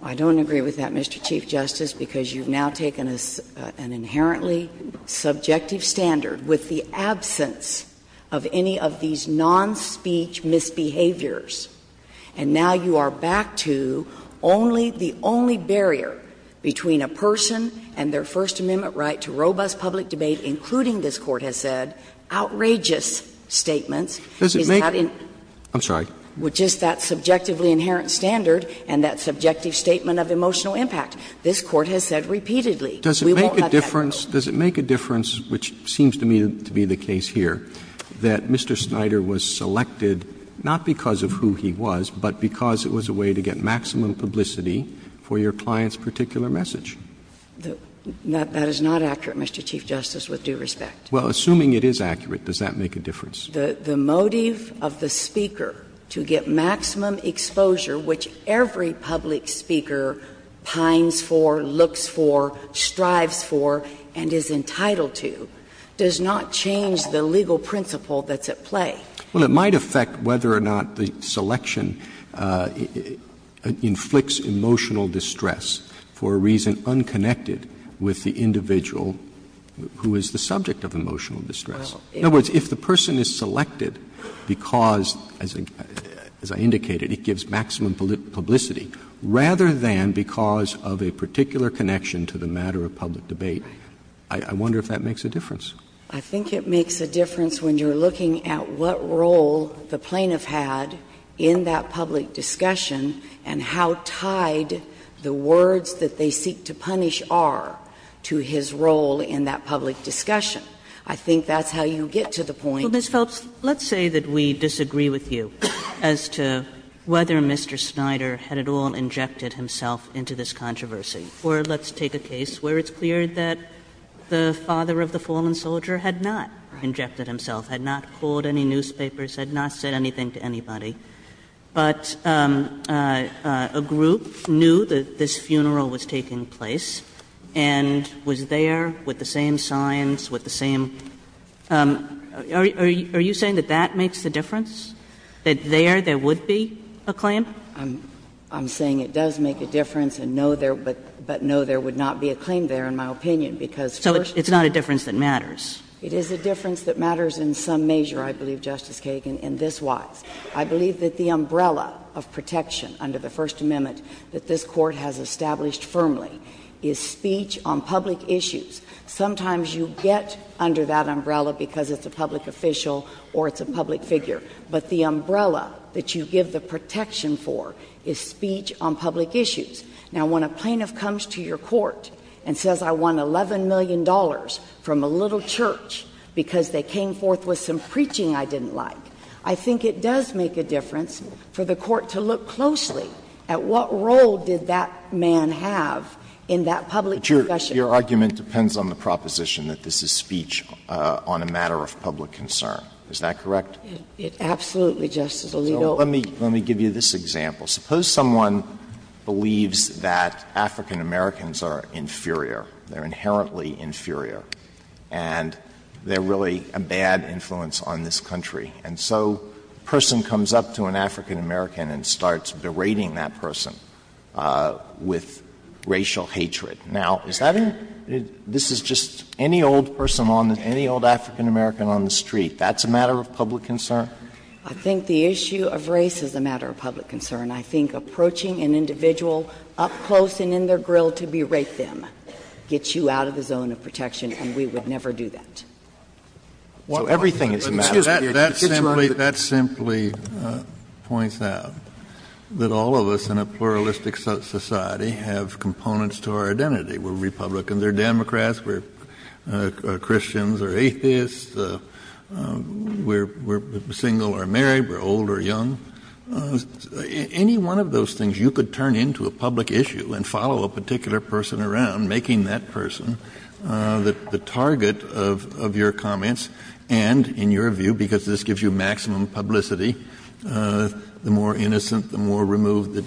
I don't agree with that, Mr. Chief Justice, because you've now taken an inherently subjective standard with the absence of any of these non-speech misbehaviors. And now you are back to only the only barrier between a person and their First Amendment right to robust public debate, including, this Court has said, outrageous statements. Does it make it? I'm sorry. With just that subjectively inherent standard and that subjective statement of emotional impact. This Court has said repeatedly, we won't have that. Does it make a difference, which seems to me to be the case here, that Mr. Snyder was selected not because of who he was, but because it was a way to get maximum publicity for your client's particular message? That is not accurate, Mr. Chief Justice, with due respect. Well, assuming it is accurate, does that make a difference? The motive of the speaker to get maximum exposure, which every public speaker pines for, looks for, strives for, and is entitled to, does not change the legal principle that's at play. Well, it might affect whether or not the selection inflicts emotional distress for a reason unconnected with the individual who is the subject of emotional distress. In other words, if the person is selected because, as I indicated, it gives maximum publicity, rather than because of a particular connection to the matter of public debate, I wonder if that makes a difference. I think it makes a difference when you're looking at what role the plaintiff had in that public discussion and how tied the words that they seek to punish are to his role in that public discussion. I think that's how you get to the point. Well, Ms. Phelps, let's say that we disagree with you as to whether Mr. Snyder had at all injected himself into this controversy. Or let's take a case where it's clear that the father of the fallen soldier had not injected himself, had not called any newspapers, had not said anything to anybody. But a group knew that this funeral was taking place and was there with the same signs, with the same – are you saying that that makes the difference, that there, there would be a claim? I'm saying it does make a difference, and no, there – but no, there would not be a claim there, in my opinion, because first of all— So it's not a difference that matters. It is a difference that matters in some measure, I believe, Justice Kagan, and this was. I believe that the umbrella of protection under the First Amendment that this Court has established firmly is speech on public issues. Sometimes you get under that umbrella because it's a public official or it's a public figure, but the umbrella that you give the protection for is speech on public issues. Now, when a plaintiff comes to your court and says, I won $11 million from a little church because they came forth with some preaching I didn't like, I think it does make a difference for the Court to look closely at what role did that man have in that public discussion. But your argument depends on the proposition that this is speech on a matter of public concern. Is that correct? Absolutely, Justice Alito. Let me give you this example. Suppose someone believes that African-Americans are inferior, they're inherently inferior, and they're really a bad influence on this country. And so a person comes up to an African-American and starts berating that person with racial hatred. Now, is that a — this is just any old person on the — any old African-American on the street. That's a matter of public concern? I think the issue of race is a matter of public concern. I think approaching an individual up close and in their grill to berate them gets you out of the zone of protection, and we would never do that. So everything is a matter of public concern. That simply — that simply points out that all of us in a pluralistic society have components to our identity. We're Republicans or Democrats. We're Christians or atheists. We're single or married. We're old or young. Any one of those things, you could turn into a public issue and follow a particular person around, making that person the target of your comments and, in your view, because this gives you maximum publicity, the more innocent, the more removed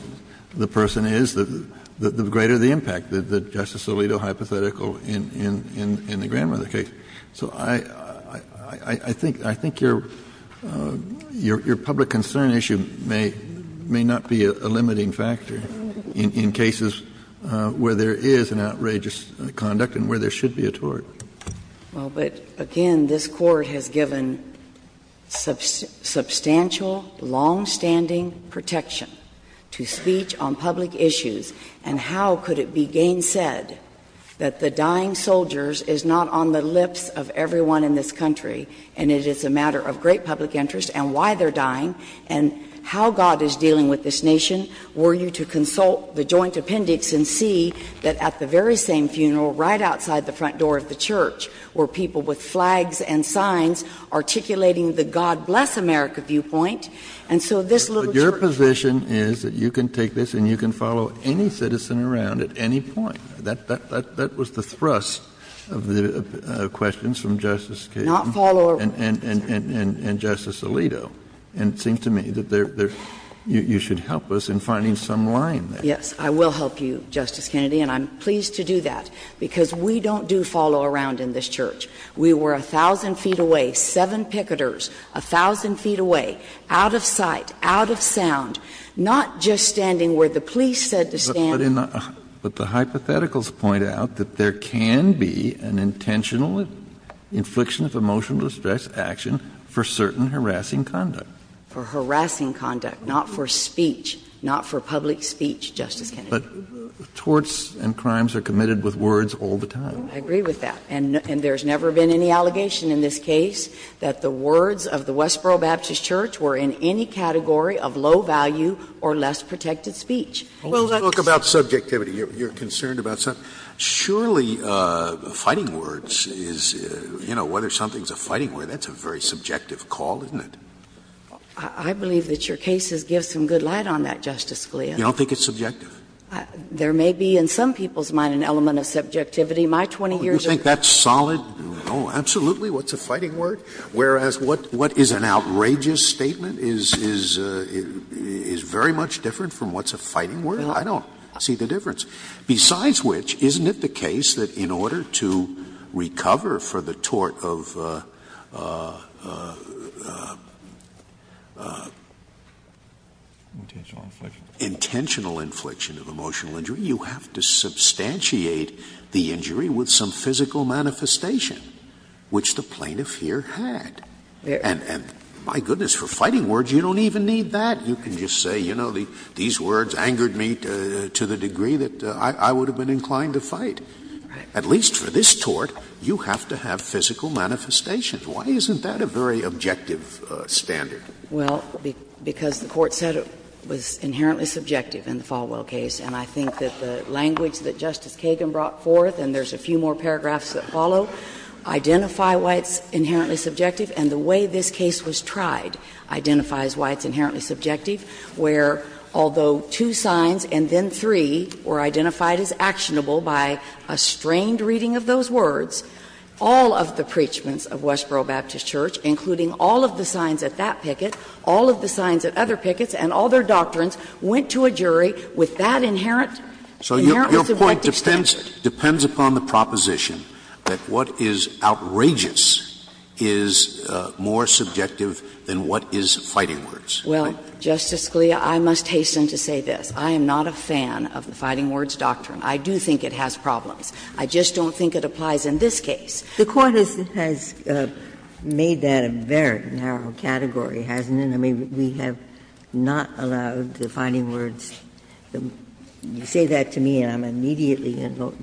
the person is, the greater the impact. The Justice Alito hypothetical in the grandmother case. So I think your public concern issue may not be a limiting factor in cases where there is an outrageous conduct and where there should be a tort. Well, but again, this Court has given substantial, longstanding protection to speech on public issues, and how could it be gainsaid that the dying soldiers is not on the lips of everyone in this country, and it is a matter of great public interest and why they're dying, and how God is dealing with this nation were you to consult the joint appendix and see that at the very same funeral right outside the front door of the church were people with flags and signs articulating the God bless America viewpoint, and so this little church. But your position is that you can take this and you can follow any citizen around at any point. That was the thrust of the questions from Justice Kennedy and Justice Alito, and it seems to me that you should help us in finding some line there. Yes, I will help you, Justice Kennedy, and I'm pleased to do that, because we don't do follow around in this church. We were 1,000 feet away, seven picketers, 1,000 feet away, out of sight, out of sound, not just standing where the police said to stand. But the hypotheticals point out that there can be an intentional infliction of emotional distress action for certain harassing conduct. For harassing conduct, not for speech, not for public speech, Justice Kennedy. But torts and crimes are committed with words all the time. I agree with that. And there's never been any allegation in this case that the words of the Westboro Baptist Church were in any category of low value or less protected speech. Well, that's the point. Let's talk about subjectivity. You're concerned about something. Surely, fighting words is, you know, whether something's a fighting word, that's a very subjective call, isn't it? I believe that your case gives some good light on that, Justice Scalia. You don't think it's subjective? There may be in some people's mind an element of subjectivity. My 20 years of experience. Oh, you think that's solid? Oh, absolutely. What's a fighting word? Whereas what is an outrageous statement is very much different from what's a fighting word? I don't see the difference. Besides which, isn't it the case that in order to recover for the tort of intentional infliction of emotional injury, you have to substantiate the injury with some physical manifestation, which the plaintiff here had. And my goodness, for fighting words, you don't even need that. You can just say, you know, these words angered me to the degree that I would have been inclined to fight. At least for this tort, you have to have physical manifestations. Why isn't that a very objective standard? Well, because the Court said it was inherently subjective in the Falwell case. And I think that the language that Justice Kagan brought forth, and there's a few more paragraphs that follow, identify why it's inherently subjective. And the way this case was tried identifies why it's inherently subjective, where although two signs and then three were identified as actionable by a strained reading of those words, all of the preachments of Westboro Baptist Church, including all of the signs at that picket, all of the signs at other pickets, and all their doctrines, went to a jury with that inherent, inherent subjective standard. Scalia, I must hasten to say this. I am not a fan of the fighting words doctrine. I do think it has problems. I just don't think it applies in this case. The Court has made that a very narrow category, hasn't it? I mean, we have not allowed the fighting words. You say that to me and I'm immediately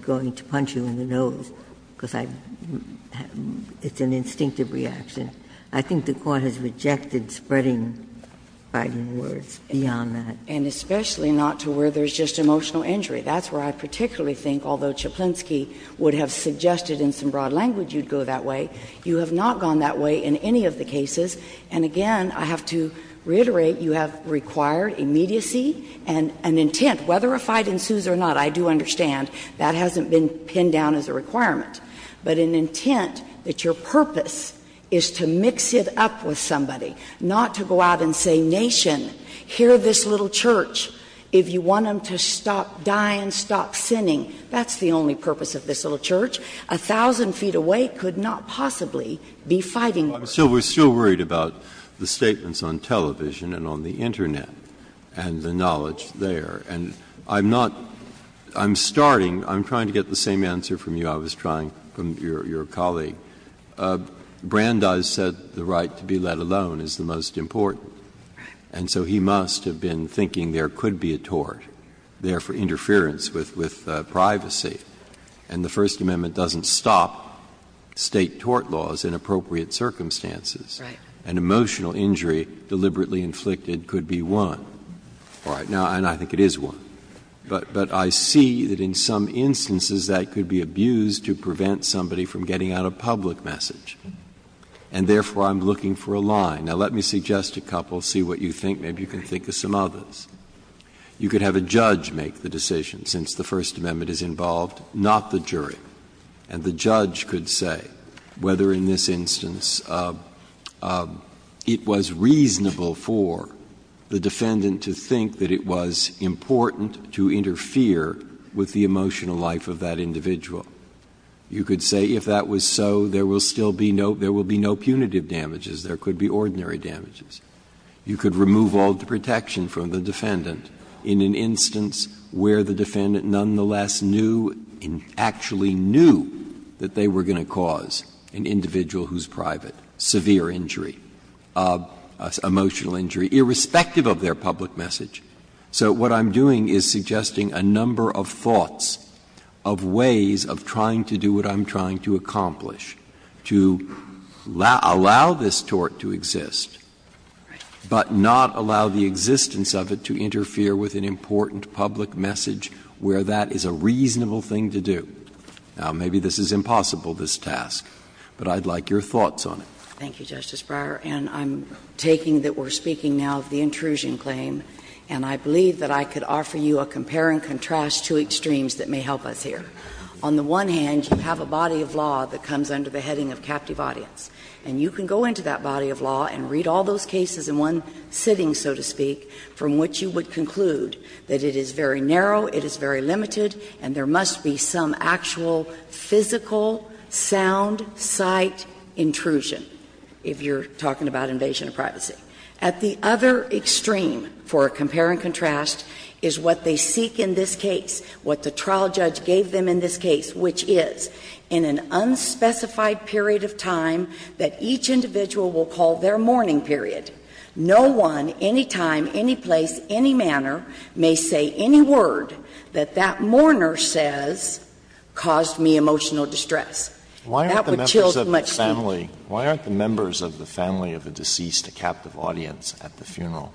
going to punch you in the nose, because it's an instinctive reaction. I think the Court has rejected spreading fighting words beyond that. And especially not to where there's just emotional injury. That's where I particularly think, although Chplinsky would have suggested in some broad language you'd go that way, you have not gone that way in any of the cases. And again, I have to reiterate, you have required immediacy and an intent. Whether a fight ensues or not, I do understand that hasn't been pinned down as a requirement. But an intent that your purpose is to mix it up with somebody, not to go out and say, nation, hear this little church, if you want them to stop dying, stop sinning, that's the only purpose of this little church. A thousand feet away could not possibly be fighting words. Breyer. We're still worried about the statements on television and on the Internet and the knowledge there. And I'm not — I'm starting — I'm trying to get the same answer from you I was trying — from your colleague. Brandeis said the right to be let alone is the most important. And so he must have been thinking there could be a tort, there for interference with privacy. And the First Amendment doesn't stop State tort laws in appropriate circumstances. Right. An emotional injury deliberately inflicted could be one. All right. Now, and I think it is one. But I see that in some instances that could be abused to prevent somebody from getting out a public message. And therefore, I'm looking for a line. Now, let me suggest a couple, see what you think. Maybe you can think of some others. You could have a judge make the decision, since the First Amendment is involved, not the jury. And the judge could say whether in this instance it was reasonable for the defendant to think that it was important to interfere with the emotional life of that individual. You could say if that was so, there will still be no — there will be no punitive damages. There could be ordinary damages. You could remove all the protection from the defendant in an instance where the defendant nonetheless knew, actually knew that they were going to cause an individual who's private, severe injury, emotional injury, irrespective of their public message. So what I'm doing is suggesting a number of thoughts of ways of trying to do what I'm trying to accomplish, to allow this tort to exist, but not allow the existence of it to interfere with an important public message where that is a reasonable thing to do. Now, maybe this is impossible, this task, but I'd like your thoughts on it. Thank you, Justice Breyer. And I'm taking that we're speaking now of the intrusion claim, and I believe that I could offer you a compare and contrast to extremes that may help us here. On the one hand, you have a body of law that comes under the heading of captive audience, and you can go into that body of law and read all those cases in one sitting, so to speak, from which you would conclude that it is very narrow, it is very limited, and there must be some actual physical, sound, sight intrusion, if you're talking about invasion of privacy. At the other extreme for a compare and contrast is what they seek in this case, what the trial judge gave them in this case, which is, in an unspecified period of time that each individual will call their mourning period, no one, any time, any place, any manner, may say any word that that mourner says caused me emotional distress. That would chill too much speech. Why aren't the members of the family of a deceased a captive audience at the funeral?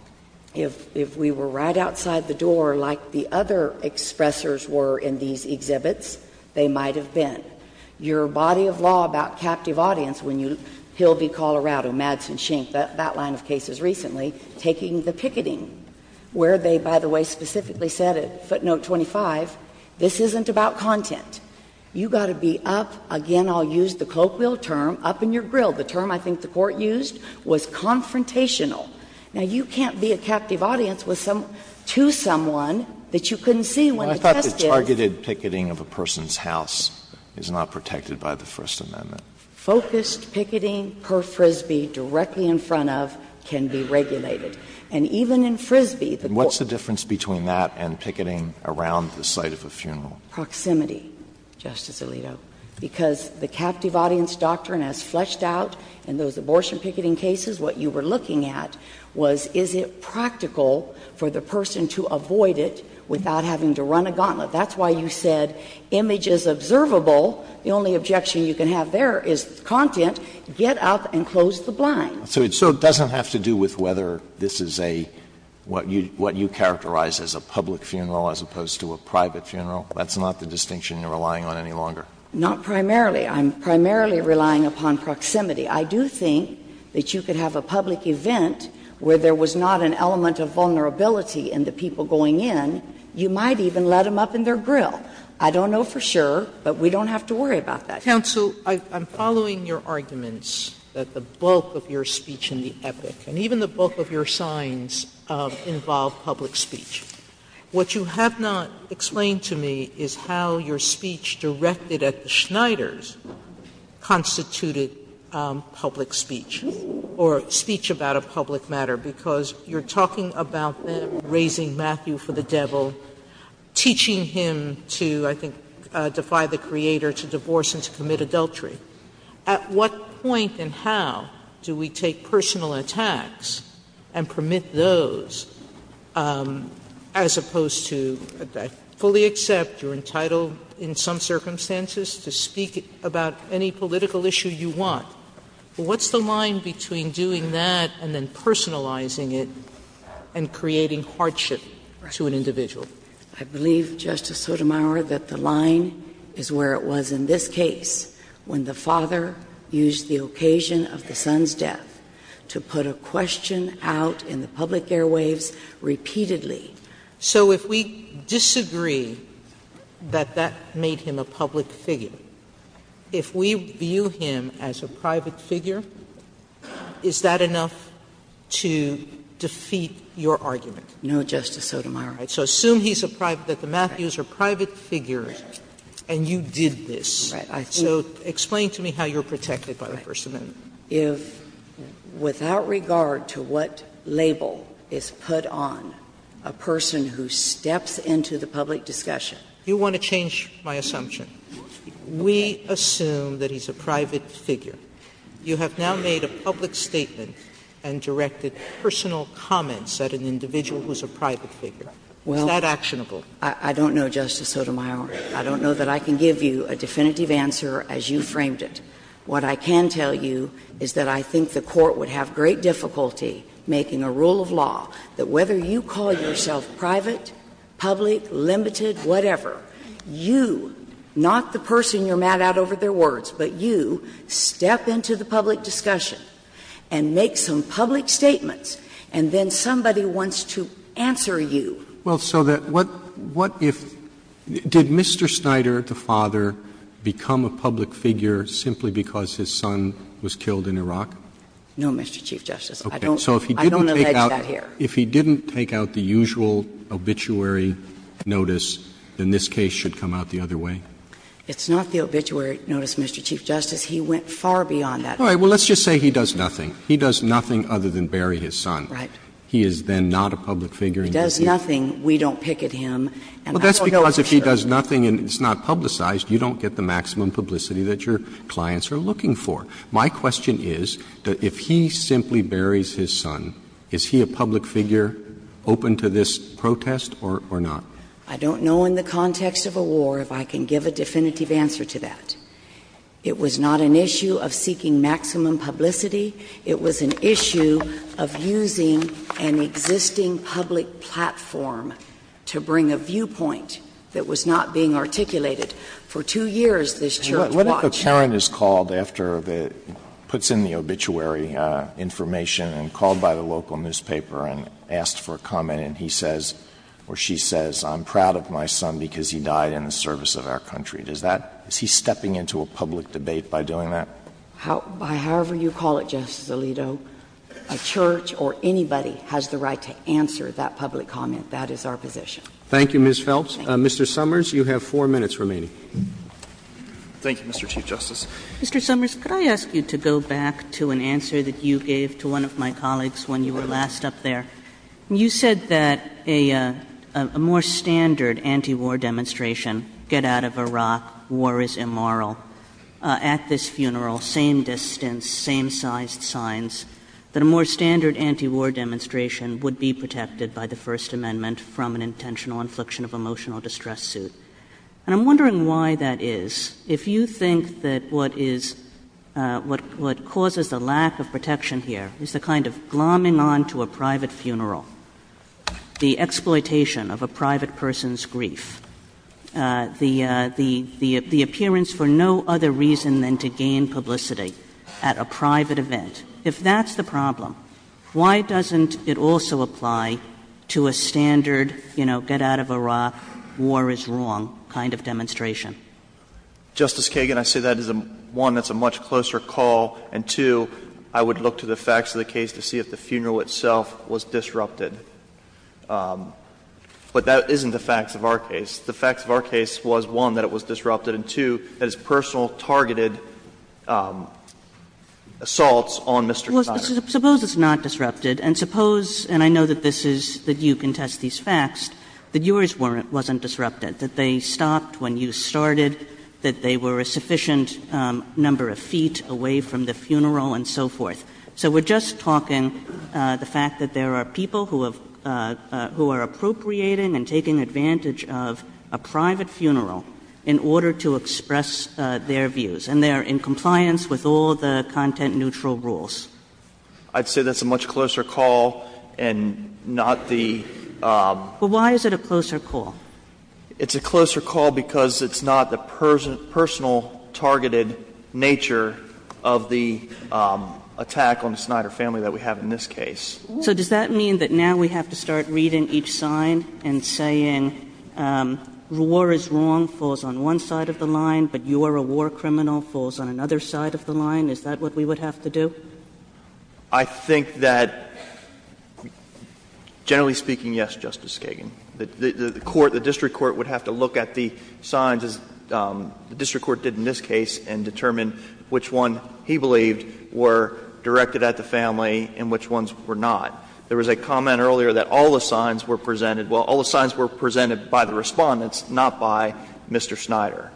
If we were right outside the door like the other expressers were in these exhibits, they might have been. Your body of law about captive audience, when you, Hill v. Colorado, Madsen v. Schenck, that line of cases recently, taking the picketing, where they, by the way, specifically said at footnote 25, this isn't about content. You've got to be up, again, I'll use the cloak wheel term, up in your grill. The term I think the Court used was confrontational. Now, you can't be a captive audience to someone that you couldn't see when the test is. And I thought the targeted picketing of a person's house is not protected by the First Amendment. Focused picketing per Frisbee directly in front of can be regulated. And even in Frisbee, the Court. And what's the difference between that and picketing around the site of a funeral? Proximity, Justice Alito, because the captive audience doctrine has fleshed out in those was, is it practical for the person to avoid it without having to run a gauntlet? That's why you said image is observable. The only objection you can have there is content, get up and close the blind. So it doesn't have to do with whether this is a, what you characterize as a public funeral as opposed to a private funeral? That's not the distinction you're relying on any longer? Not primarily. I'm primarily relying upon proximity. I do think that you could have a public event where there was not an element of vulnerability in the people going in. You might even let them up in their grill. I don't know for sure, but we don't have to worry about that. Sotomayor, I'm following your arguments that the bulk of your speech in the epic, and even the bulk of your signs, involve public speech. What you have not explained to me is how your speech directed at the Schneiders constituted public speech, or speech about a public matter, because you're talking about them raising Matthew for the devil, teaching him to, I think, defy the Creator, to divorce and to commit adultery. At what point and how do we take personal attacks and permit those as opposed to, I fully accept you're entitled in some circumstances to speak about any political issue you want, but what's the line between doing that and then personalizing it and creating hardship to an individual? I believe, Justice Sotomayor, that the line is where it was in this case, when the father used the occasion of the son's death to put a question out in the public airwaves repeatedly. Sotomayor, so if we disagree that that made him a public figure, if we view him as a private figure, is that enough to defeat your argument? No, Justice Sotomayor. So assume he's a private, that the Matthews are private figures and you did this. So explain to me how you're protected by the First Amendment. If, without regard to what label is put on a person who steps into the public discussion. You want to change my assumption. We assume that he's a private figure. You have now made a public statement and directed personal comments at an individual who's a private figure. Is that actionable? I don't know, Justice Sotomayor. I don't know that I can give you a definitive answer as you framed it. What I can tell you is that I think the Court would have great difficulty making a rule of law that whether you call yourself private, public, limited, whatever, you, not the person you're mad at over their words, but you step into the public discussion and make some public statements, and then somebody wants to answer you. Well, so that, what if, did Mr. Snyder, the father, become a public figure simply because his son was killed in Iraq? No, Mr. Chief Justice. I don't allege that here. If he didn't take out the usual obituary notice, then this case should come out the other way? It's not the obituary notice, Mr. Chief Justice. He went far beyond that. All right. Well, let's just say he does nothing. He does nothing other than bury his son. Right. He is then not a public figure. If he does nothing, we don't picket him, and I don't know for sure. But that's because if he does nothing and it's not publicized, you don't get the maximum publicity that your clients are looking for. My question is, if he simply buries his son, is he a public figure open to this protest or not? I don't know in the context of a war if I can give a definitive answer to that. It was not an issue of seeking maximum publicity. It was an issue of using an existing public platform to bring a viewpoint that was not being articulated. For two years, this Church watched. And what if a parent is called after the — puts in the obituary information and called by the local newspaper and asked for a comment, and he says or she says, I'm proud of my son because he died in the service of our country. Does that — is he stepping into a public debate by doing that? However you call it, Justice Alito, a Church or anybody has the right to answer that public comment. That is our position. Thank you, Ms. Phelps. Mr. Summers, you have four minutes remaining. Thank you, Mr. Chief Justice. Mr. Summers, could I ask you to go back to an answer that you gave to one of my colleagues when you were last up there? You said that a more standard antiwar demonstration, get out of Iraq, war is immoral. At this funeral, same distance, same-sized signs, that a more standard antiwar demonstration would be protected by the First Amendment from an intentional infliction of emotional distress suit. And I'm wondering why that is. If you think that what is — what causes the lack of protection here is the kind of glomming onto a private funeral, the exploitation of a private person's grief, the appearance for no other reason than to gain publicity at a private event. If that's the problem, why doesn't it also apply to a standard, you know, get out of Iraq, war is wrong kind of demonstration? Justice Kagan, I say that is a — one, that's a much closer call, and two, I would look to the facts of the case to see if the funeral itself was disrupted. But that isn't the facts of our case. The facts of our case was, one, that it was disrupted, and, two, that it's personal targeted assaults on Mr. Connery. Suppose it's not disrupted. And suppose — and I know that this is — that you contest these facts — that yours wasn't disrupted, that they stopped when you started, that they were a sufficient number of feet away from the funeral and so forth. So we're just talking the fact that there are people who have — who are appropriating and taking advantage of a private funeral in order to express their views. And they are in compliance with all the content-neutral rules. I'd say that's a much closer call and not the — Well, why is it a closer call? It's a closer call because it's not the personal targeted nature of the attack on the Snyder family that we have in this case. So does that mean that now we have to start reading each sign and saying, war is wrong falls on one side of the line, but you are a war criminal falls on another side of the line? Is that what we would have to do? I think that, generally speaking, yes, Justice Kagan. The court, the district court, would have to look at the signs, as the district court did in this case, and determine which one he believed were directed at the family and which ones were not. There was a comment earlier that all the signs were presented — well, all the signs were presented by the Respondents, not by Mr. Snyder.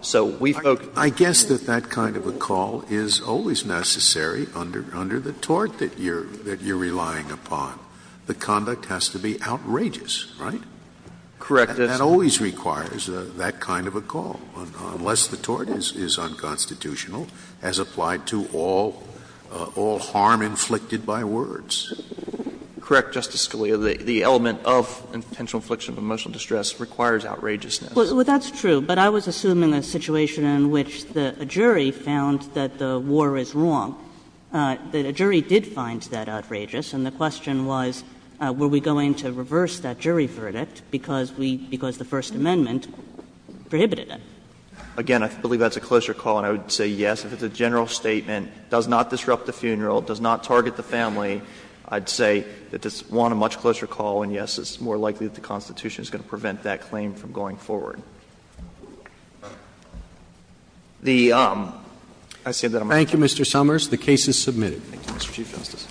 So we focus on the signs. I guess that that kind of a call is always necessary under the tort that you are relying upon. The conduct has to be outrageous, right? Correct. That always requires that kind of a call, unless the tort is unconstitutional, as applied to all harm inflicted by words. Correct, Justice Scalia. The element of intentional infliction of emotional distress requires outrageousness. Well, that's true. But I was assuming a situation in which a jury found that the war is wrong. The jury did find that outrageous, and the question was, were we going to reverse that jury verdict because we — because the First Amendment prohibited it? Again, I believe that's a closer call, and I would say yes. If it's a general statement, does not disrupt the funeral, does not target the family, I'd say that it's one, a much closer call, and yes, it's more likely that the Constitution is going to prevent that claim from going forward. The — I say that I'm — Thank you, Mr. Summers. The case is submitted. Thank you, Mr. Chief Justice.